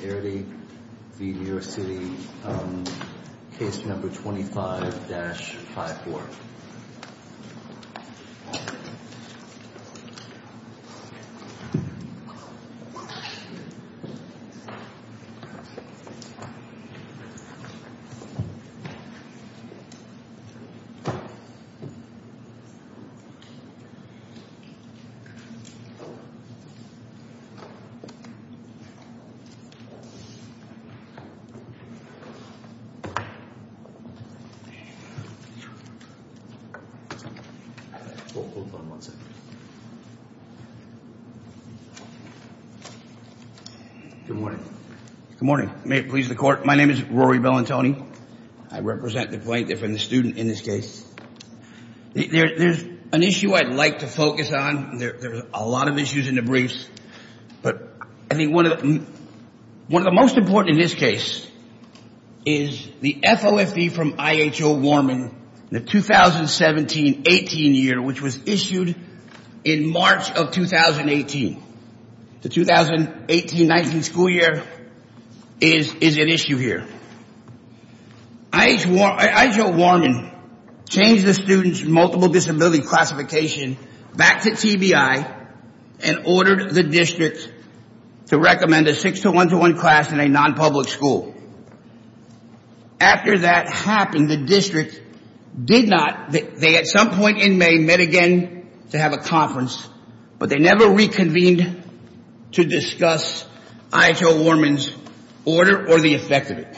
v. Airdy v. New York City, case number 25-54. Good morning. May it please the court, my name is Rory Bellantoni. I represent the plaintiff and the student in this case. There's an issue I'd like to focus on. There's a lot of issues in the briefs. But I think one of the most important in this case is the FOFD from I.H.O. Warman, the 2017-18 year, which was issued in March of 2018. The 2018-19 school year is an issue here. I.H.O. Warman changed the student's multiple disability classification back to TBI and ordered the district to recommend a 6-1-1 class in a non-public school. After that happened, the district did not, they at some point in May met again to have a conference, but they never reconvened to discuss I.H.O. Warman's order or the effect of it.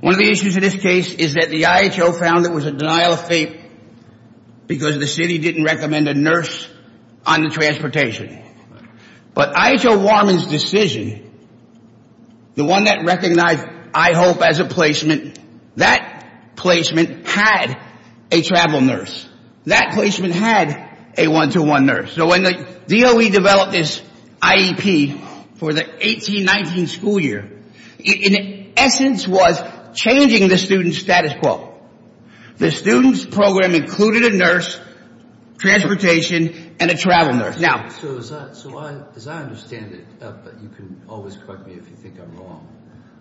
One of the issues in this case is that the I.H.O. found it was a denial of faith because the city didn't recommend a nurse on the transportation. But I.H.O. Warman's decision, the one that recognized IHOPE as a placement, that placement had a travel nurse. That placement had a one-to-one nurse. So when the DOE developed this IEP for the 18-19 school year, it in essence was changing the student's status quo. The student's program included a nurse, transportation, and a travel nurse. So as I understand it, but you can always correct me if you think I'm wrong,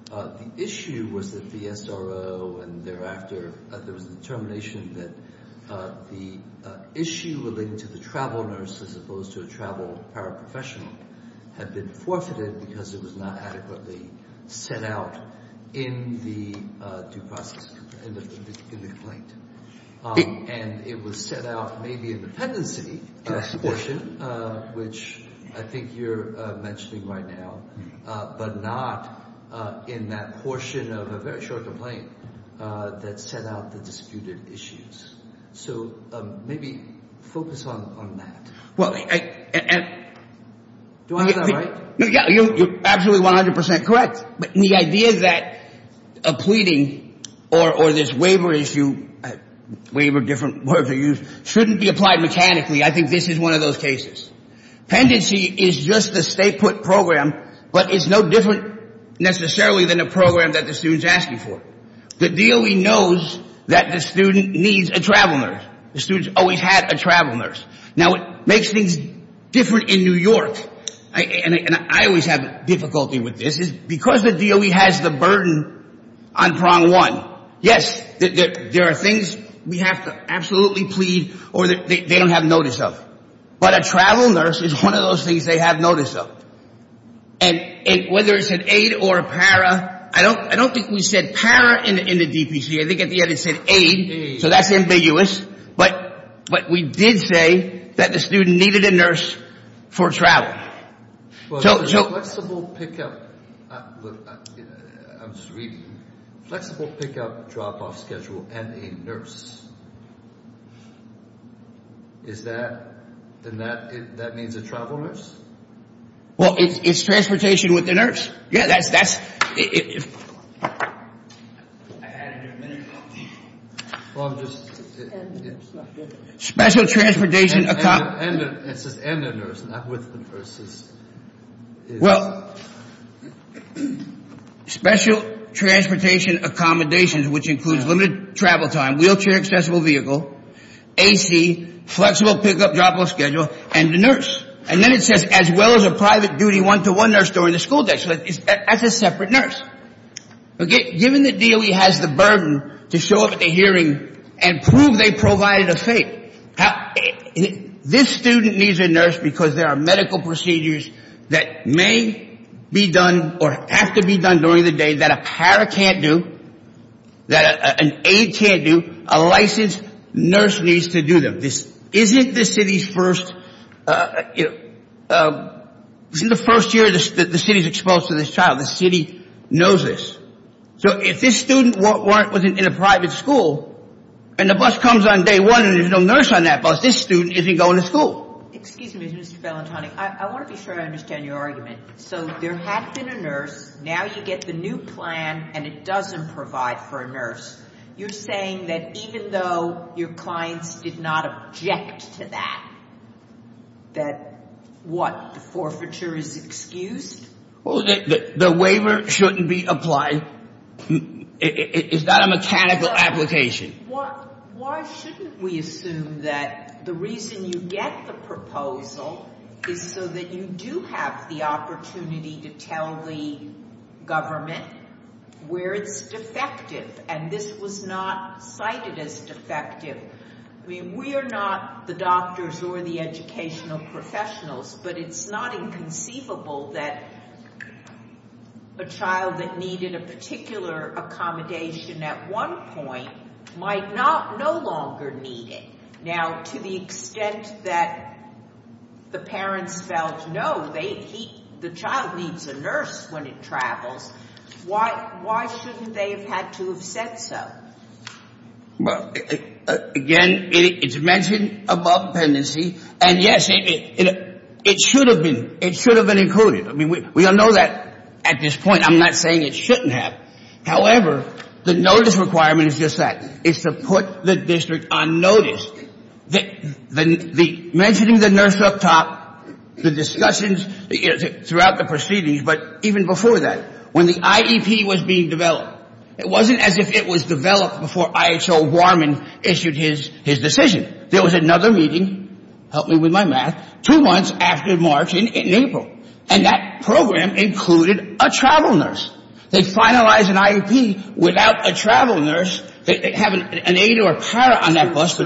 the issue was that the SRO and thereafter, there was a determination that the issue relating to the travel nurse as opposed to a travel paraprofessional had been forfeited because it was not adequately set out in the due process, in the complaint. And it was set out maybe in the pendency portion, which I think you're mentioning right now, but not in that portion of a very short complaint that set out the disputed issues. So maybe focus on that. Do I have that right? You're absolutely 100 percent correct. But the idea that a pleading or this waiver issue, waiver, different words are used, shouldn't be applied mechanically, I think this is one of those cases. Pendency is just a stay-put program, but it's no different necessarily than a program that the student's asking for. The DOE knows that the student needs a travel nurse. The student's always had a travel nurse. Now, it makes things different in New York. And I always have difficulty with this. Because the DOE has the burden on prong one, yes, there are things we have to absolutely plead or they don't have notice of. But a travel nurse is one of those things they have notice of. And whether it's an aide or a para, I don't think we said para in the DPC. I think at the end it said aide. So that's ambiguous. But we did say that the student needed a nurse for travel. Flexible pickup. I'm just reading. Flexible pickup drop-off schedule and a nurse. Is that, then that means a travel nurse? Well, it's transportation with a nurse. Yeah, that's. I had it in a minute. Well, I'm just. Special transportation. It says and a nurse, not with a nurse. Well, special transportation accommodations, which includes limited travel time, wheelchair accessible vehicle, AC, flexible pickup drop-off schedule, and a nurse. And then it says as well as a private duty one-to-one nurse during the school day. So that's a separate nurse. Given the DOE has the burden to show up at the hearing and prove they provided a fate, this student needs a nurse because there are medical procedures that may be done or have to be done during the day that a para can't do, that an aide can't do, a licensed nurse needs to do them. This isn't the city's first. This isn't the first year the city's exposed to this child. The city knows this. So if this student was in a private school and the bus comes on day one and there's no nurse on that bus, this student isn't going to school. Excuse me, Mr. Valentoni. I want to be sure I understand your argument. So there had been a nurse. Now you get the new plan and it doesn't provide for a nurse. You're saying that even though your clients did not object to that, that what, the forfeiture is excused? The waiver shouldn't be applied. It's not a mechanical application. Why shouldn't we assume that the reason you get the proposal is so that you do have the opportunity to tell the government where it's defective and this was not cited as defective? I mean, we are not the doctors or the educational professionals, but it's not inconceivable that a child that needed a particular accommodation at one point might no longer need it. Now, to the extent that the parents felt, no, the child needs a nurse when it travels, why shouldn't they have had to have said so? Well, again, it's mentioned above dependency and, yes, it should have been included. I mean, we all know that at this point. I'm not saying it shouldn't have. However, the notice requirement is just that, is to put the district on notice. The mentioning the nurse up top, the discussions throughout the proceedings, but even before that, when the IEP was being developed, it wasn't as if it was developed before I.H.O. Warman issued his decision. There was another meeting, help me with my math, two months after March and April, and that program included a travel nurse. They finalized an IEP without a travel nurse. They have an aide or a para on that bus.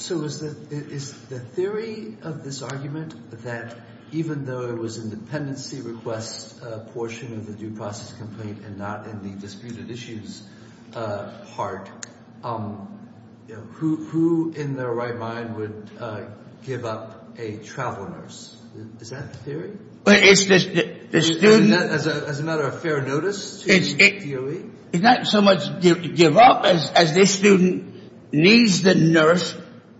So is the theory of this argument that even though it was a dependency request portion of the due process complaint and not in the disputed issues part, who in their right mind would give up a travel nurse? Is that the theory? As a matter of fair notice, is that the theory? It's not so much give up as this student needs the nurse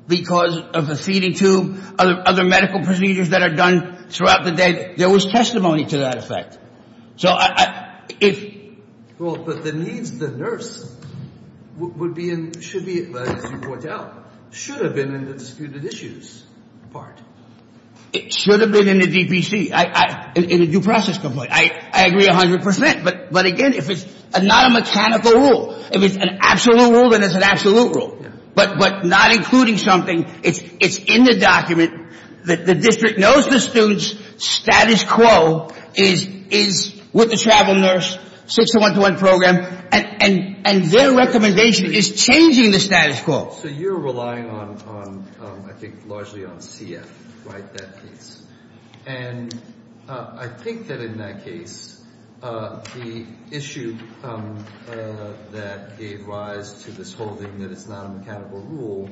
because of a feeding tube, other medical procedures that are done throughout the day. There was testimony to that effect. Well, but the needs of the nurse should be, as you point out, should have been in the disputed issues part. It should have been in the DPC, in the due process complaint. I agree 100 percent. But, again, if it's not a mechanical rule, if it's an absolute rule, then it's an absolute rule. But not including something, it's in the document. The district knows the student's status quo is with the travel nurse, 6-1-1 program, and their recommendation is changing the status quo. So you're relying on, I think, largely on CF, right, that piece? And I think that in that case, the issue that gave rise to this holding that it's not a mechanical rule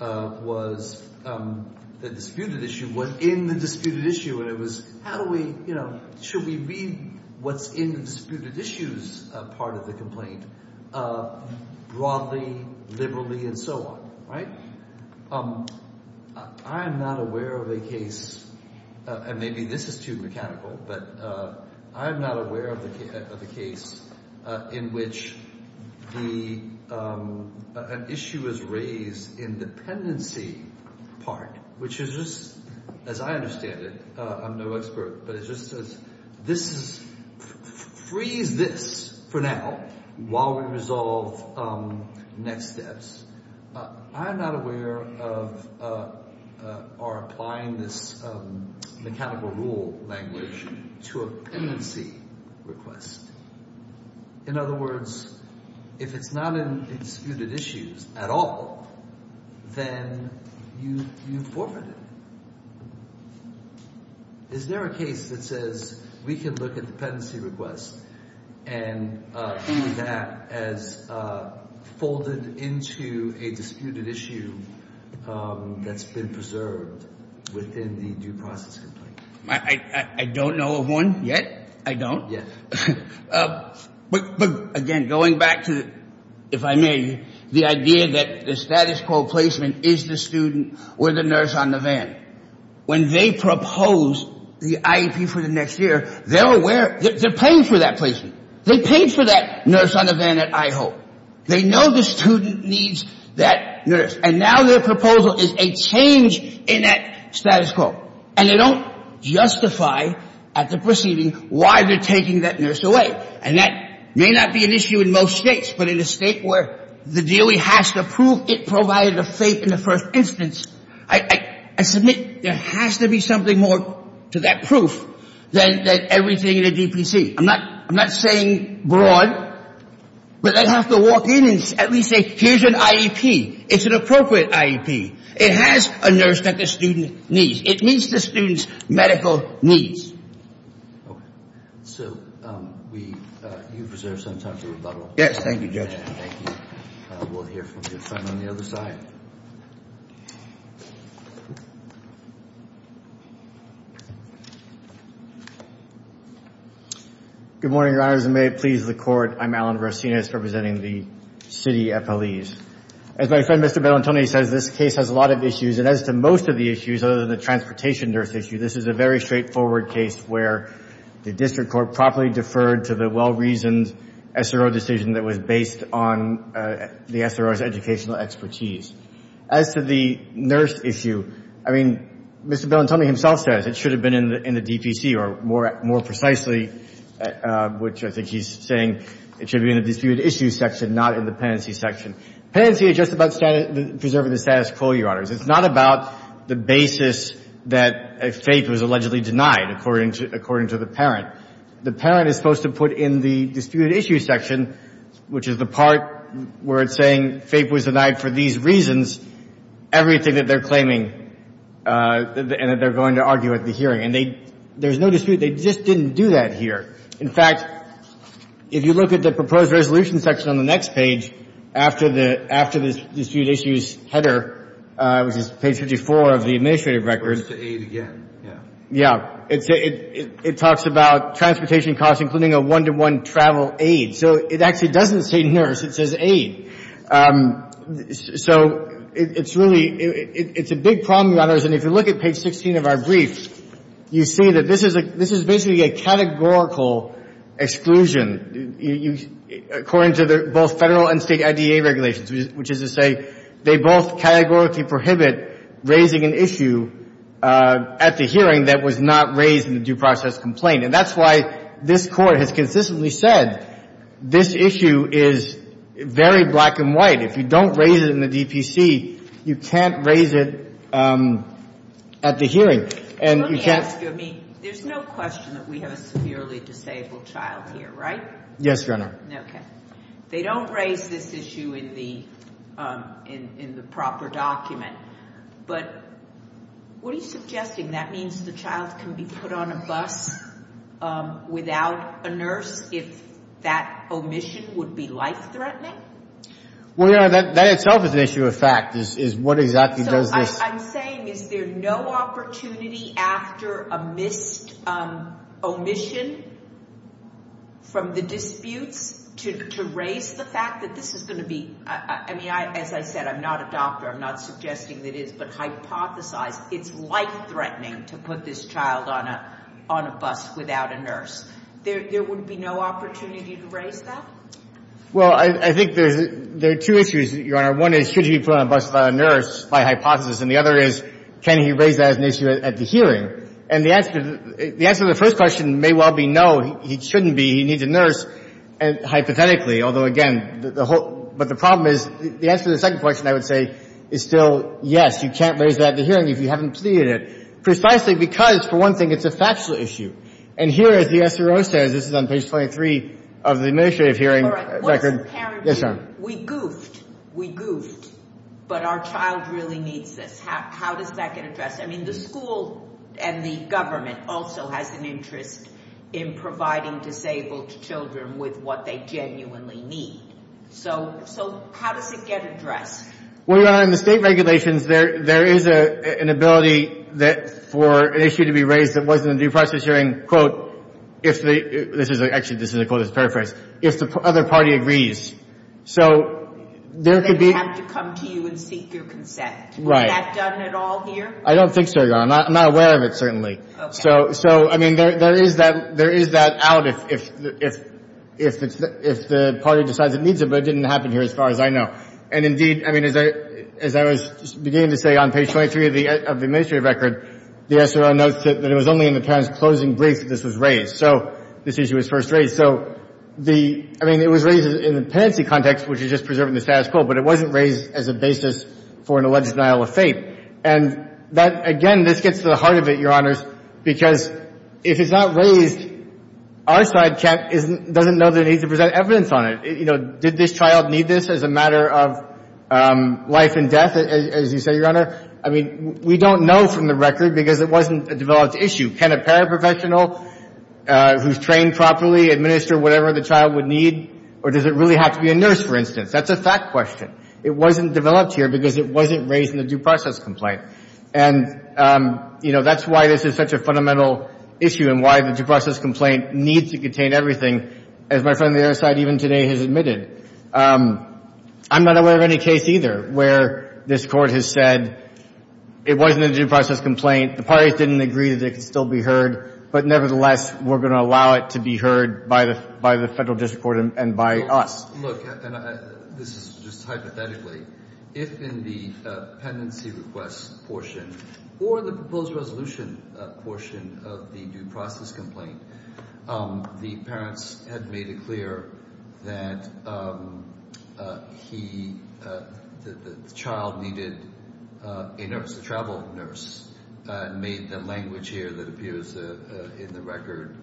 was the disputed issue. What's in the disputed issue? And it was how do we, you know, should we read what's in the disputed issues part of the complaint broadly, liberally, and so on, right? I am not aware of a case, and maybe this is too mechanical, but I am not aware of a case in which an issue is raised in dependency part, which is just, as I understand it, I'm no expert, but it just says freeze this for now while we resolve next steps. I am not aware of or applying this mechanical rule language to a pendency request. In other words, if it's not in disputed issues at all, then you forfeit it. Is there a case that says we can look at the pendency request and view that as folded into a disputed issue that's been preserved within the due process complaint? I don't know of one yet. I don't. But again, going back to, if I may, the idea that the status quo placement is the student or the nurse on the van. When they propose the IEP for the next year, they're aware, they're paying for that placement. They paid for that nurse on the van at IHO. They know the student needs that nurse, and now their proposal is a change in that status quo, and they don't justify at the proceeding why they're taking that nurse away. And that may not be an issue in most states, but in a state where the DOE has to prove it provided a fate in the first instance, I submit there has to be something more to that proof than everything in a DPC. I'm not saying broad, but they have to walk in and at least say, here's an IEP. It's an appropriate IEP. It has a nurse that the student needs. It meets the student's medical needs. Okay. So, we, you've reserved some time for rebuttal. Yes, thank you, Judge. Thank you. We'll hear from your friend on the other side. Good morning, Your Honors, and may it please the Court. I'm Alan Verasenis representing the city FLEs. As my friend, Mr. Bellantoni, says, this case has a lot of issues, and as to most of the issues other than the transportation nurse issue, this is a very straightforward case where the district court properly deferred to the well-reasoned SRO decision that was based on the SRO's educational expertise. As to the nurse issue, I mean, Mr. Bellantoni himself says it should have been in the DPC, or more precisely, which I think he's saying it should have been in the disputed issues section, not in the penancy section. Penancy is just about preserving the status quo, Your Honors. It's not about the basis that FAPE was allegedly denied, according to the parent. The parent is supposed to put in the disputed issues section, which is the part where it's saying FAPE was denied for these reasons, everything that they're claiming and that they're going to argue at the hearing. And there's no dispute. They just didn't do that here. In fact, if you look at the proposed resolution section on the next page, after the disputed issues header, which is page 54 of the administrative record. It goes to aid again, yeah. Yeah. It talks about transportation costs, including a one-to-one travel aid. So it actually doesn't say nurse. It says aid. So it's really — it's a big problem, Your Honors. And if you look at page 16 of our brief, you see that this is basically a categorical exclusion, according to both Federal and State IDA regulations, which is to say they both categorically prohibit raising an issue at the hearing that was not raised in the due process complaint. And that's why this Court has consistently said this issue is very black and white. If you don't raise it in the DPC, you can't raise it at the hearing. Let me ask you. I mean, there's no question that we have a severely disabled child here, right? Yes, Your Honor. Okay. They don't raise this issue in the proper document. But what are you suggesting? That means the child can be put on a bus without a nurse if that omission would be life-threatening? Well, Your Honor, that itself is an issue of fact, is what exactly does this— So I'm saying is there no opportunity after a missed omission from the disputes to raise the fact that this is going to be— I mean, as I said, I'm not a doctor. I'm not suggesting that it is. But hypothesize it's life-threatening to put this child on a bus without a nurse. There would be no opportunity to raise that? Well, I think there are two issues, Your Honor. One is should he be put on a bus without a nurse by hypothesis, and the other is can he raise that as an issue at the hearing. And the answer to the first question may well be no, he shouldn't be. He needs a nurse, hypothetically. Although, again, the whole—but the problem is the answer to the second question, I would say, is still yes, you can't raise that at the hearing if you haven't stated it. Precisely because, for one thing, it's a factual issue. And here, as the SRO says, this is on page 23 of the administrative hearing record— What's the parent view? Yes, Your Honor. We goofed. We goofed. But our child really needs this. How does that get addressed? I mean, the school and the government also has an interest in providing disabled children with what they genuinely need. So, how does it get addressed? Well, Your Honor, in the state regulations, there is an ability for an issue to be raised that wasn't in the due process hearing, quote, if the—actually, this is a quote as a paraphrase—if the other party agrees. So, there could be— They would have to come to you and seek your consent. Right. Would that have done at all here? I don't think so, Your Honor. I'm not aware of it, certainly. Okay. So, I mean, there is that out if the party decides it needs it. But it didn't happen here as far as I know. And, indeed, I mean, as I was beginning to say on page 23 of the administrative record, the SRO notes that it was only in the parent's closing brief that this was raised. So, this issue was first raised. So, the—I mean, it was raised in the pendency context, which is just preserving the status quo, but it wasn't raised as a basis for an alleged denial of faith. And that—again, this gets to the heart of it, Your Honors, because if it's not raised, our side cat doesn't know that it needs to present evidence on it. You know, did this child need this as a matter of life and death, as you say, Your Honor? I mean, we don't know from the record because it wasn't a developed issue. Can a paraprofessional who's trained properly administer whatever the child would need, or does it really have to be a nurse, for instance? That's a fact question. It wasn't developed here because it wasn't raised in the due process complaint. And, you know, that's why this is such a fundamental issue and why the due process complaint needs to contain everything, as my friend on the other side even today has admitted. I'm not aware of any case either where this Court has said it wasn't a due process complaint, the parties didn't agree that it could still be heard, but nevertheless we're going to allow it to be heard by the Federal District Court and by us. Look, and this is just hypothetically, if in the pendency request portion or the proposed resolution portion of the due process complaint the parents had made it clear that the child needed a nurse, a travel nurse, made the language here that appears in the record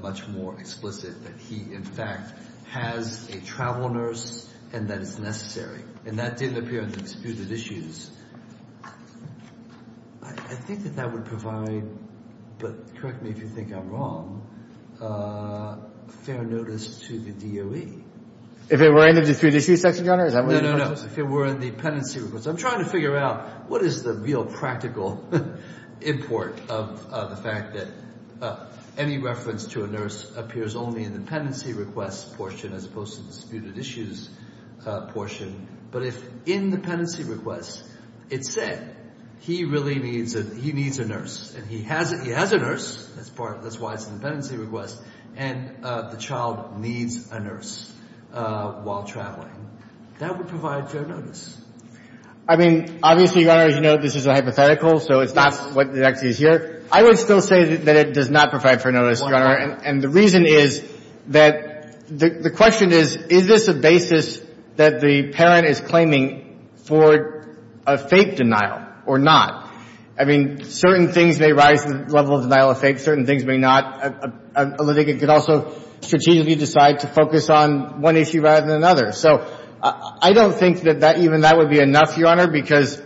much more explicit, that he, in fact, has a travel nurse and that it's necessary. And that didn't appear in the disputed issues. I think that that would provide, but correct me if you think I'm wrong, fair notice to the DOE. If it were in the disputed issues section, Your Honor? No, no, no. If it were in the pendency request. I'm trying to figure out what is the real practical import of the fact that any reference to a nurse appears only in the pendency request portion as opposed to the disputed issues portion. But if in the pendency request it said he really needs a nurse and he has a nurse, that's why it's in the pendency request, and the child needs a nurse while traveling, that would provide fair notice. I mean, obviously, Your Honor, as you know, this is a hypothetical, so it's not what actually is here. I would still say that it does not provide fair notice, Your Honor. And the reason is that the question is, is this a basis that the parent is claiming for a fake denial or not? I mean, certain things may rise to the level of denial of fake. Certain things may not. A litigant could also strategically decide to focus on one issue rather than another. So I don't think that even that would be enough, Your Honor, because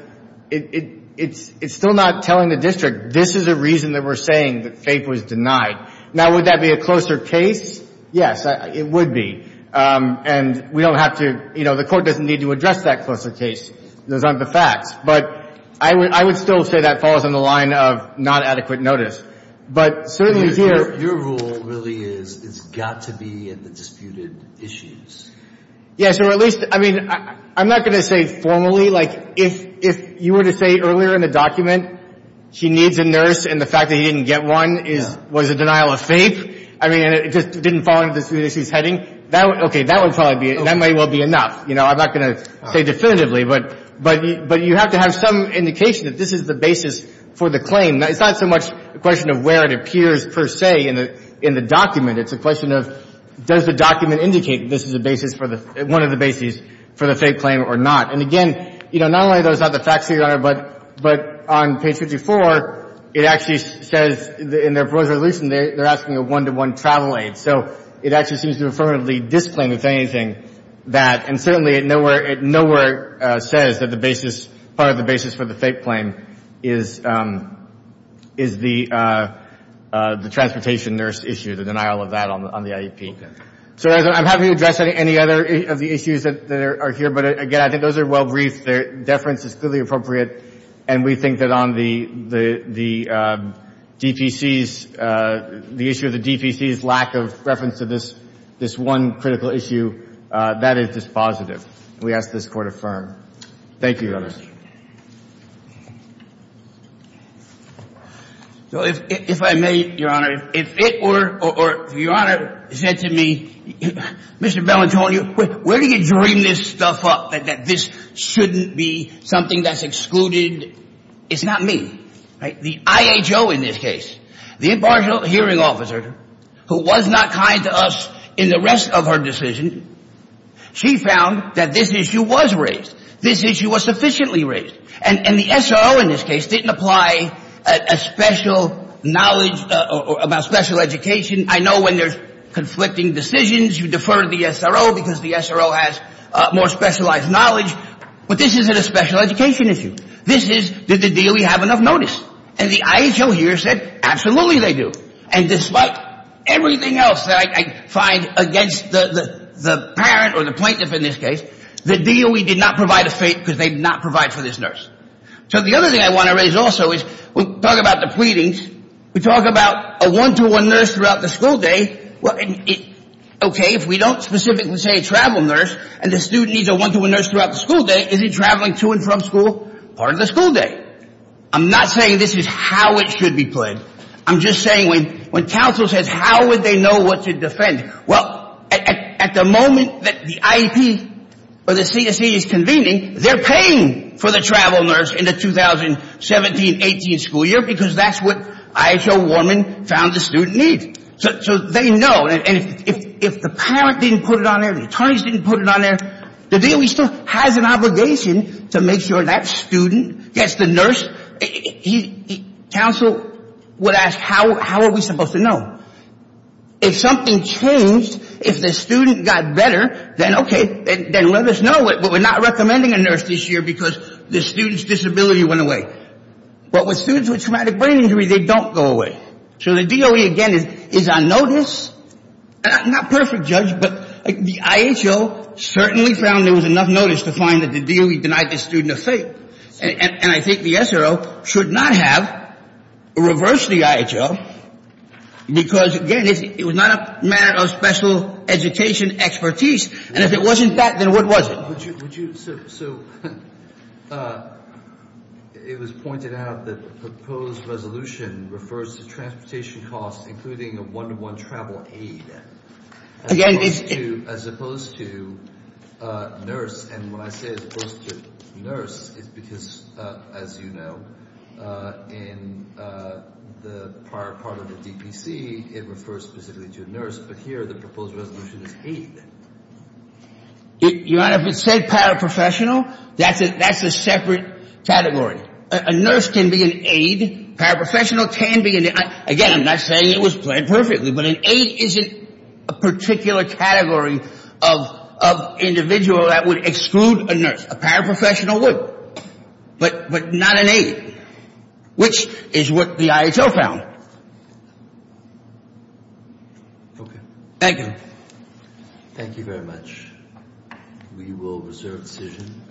it's still not telling the district this is a reason that we're saying that fake was denied. Now, would that be a closer case? Yes, it would be. And we don't have to, you know, the court doesn't need to address that closer case. Those aren't the facts. But I would still say that falls on the line of not adequate notice. But certainly here – Your rule really is it's got to be in the disputed issues. Yes, or at least, I mean, I'm not going to say formally. Like, if you were to say earlier in the document she needs a nurse and the fact that he didn't get one was a denial of fake, I mean, and it just didn't fall into the disputed issues heading, that would – okay, that would probably be – that might well be enough. You know, I'm not going to say definitively. But you have to have some indication that this is the basis for the claim. It's not so much a question of where it appears per se in the document. It's a question of does the document indicate this is a basis for the – one of the bases for the fake claim or not. And, again, you know, not only are those not the facts, Your Honor, but on page 54, it actually says in their resolution they're asking a one-to-one travel aid. So it actually seems to affirmatively disclaim, if anything, that – and certainly it nowhere says that the basis – part of the basis for the fake claim is the transportation nurse issue, the denial of that on the IEP. So I'm happy to address any other of the issues that are here. But, again, I think those are well briefed. Their deference is clearly appropriate. And we think that on the DPC's – the issue of the DPC's lack of reference to this – this one critical issue, that is dispositive. And we ask this Court affirm. Thank you, Your Honor. So if I may, Your Honor, if it were – or if Your Honor said to me, Mr. Bellantonio, where do you dream this stuff up, that this shouldn't be something that's excluded? It's not me. The IHO in this case, the impartial hearing officer, who was not kind to us in the rest of her decision, she found that this issue was raised. This issue was sufficiently raised. And the SRO in this case didn't apply a special knowledge about special education. I know when there's conflicting decisions, you defer to the SRO because the SRO has more specialized knowledge. But this isn't a special education issue. This is did the DOE have enough notice. And the IHO here said absolutely they do. And despite everything else that I find against the parent or the plaintiff in this case, the DOE did not provide a fate because they did not provide for this nurse. So the other thing I want to raise also is we talk about the pleadings. We talk about a one-to-one nurse throughout the school day. Okay, if we don't specifically say travel nurse and the student needs a one-to-one nurse throughout the school day, is he traveling to and from school part of the school day? I'm not saying this is how it should be played. I'm just saying when counsel says how would they know what to defend? Well, at the moment that the IEP or the CSE is convening, they're paying for the travel nurse in the 2017-18 school year because that's what IHO Warman found the student needs. So they know. And if the parent didn't put it on there, the attorneys didn't put it on there, the DOE still has an obligation to make sure that student gets the nurse. Counsel would ask how are we supposed to know. If something changed, if the student got better, then okay, then let us know. But we're not recommending a nurse this year because the student's disability went away. But with students with traumatic brain injury, they don't go away. So the DOE, again, is on notice. Not perfect, Judge, but the IHO certainly found there was enough notice to find that the DOE denied the student a fate. And I think the SRO should not have reversed the IHO because, again, it was not a matter of special education expertise. And if it wasn't that, then what was it? So it was pointed out that the proposed resolution refers to transportation costs including a one-to-one travel aid as opposed to nurse. And when I say as opposed to nurse, it's because, as you know, in the prior part of the DPC, it refers specifically to a nurse. But here the proposed resolution is aid. Your Honor, if it said paraprofessional, that's a separate category. A nurse can be an aid. Paraprofessional can be an aid. Again, I'm not saying it was planned perfectly, but an aid isn't a particular category of individual that would exclude a nurse. A paraprofessional would. But not an aid, which is what the IHO found. Okay. Thank you. Thank you very much. We will reserve decision.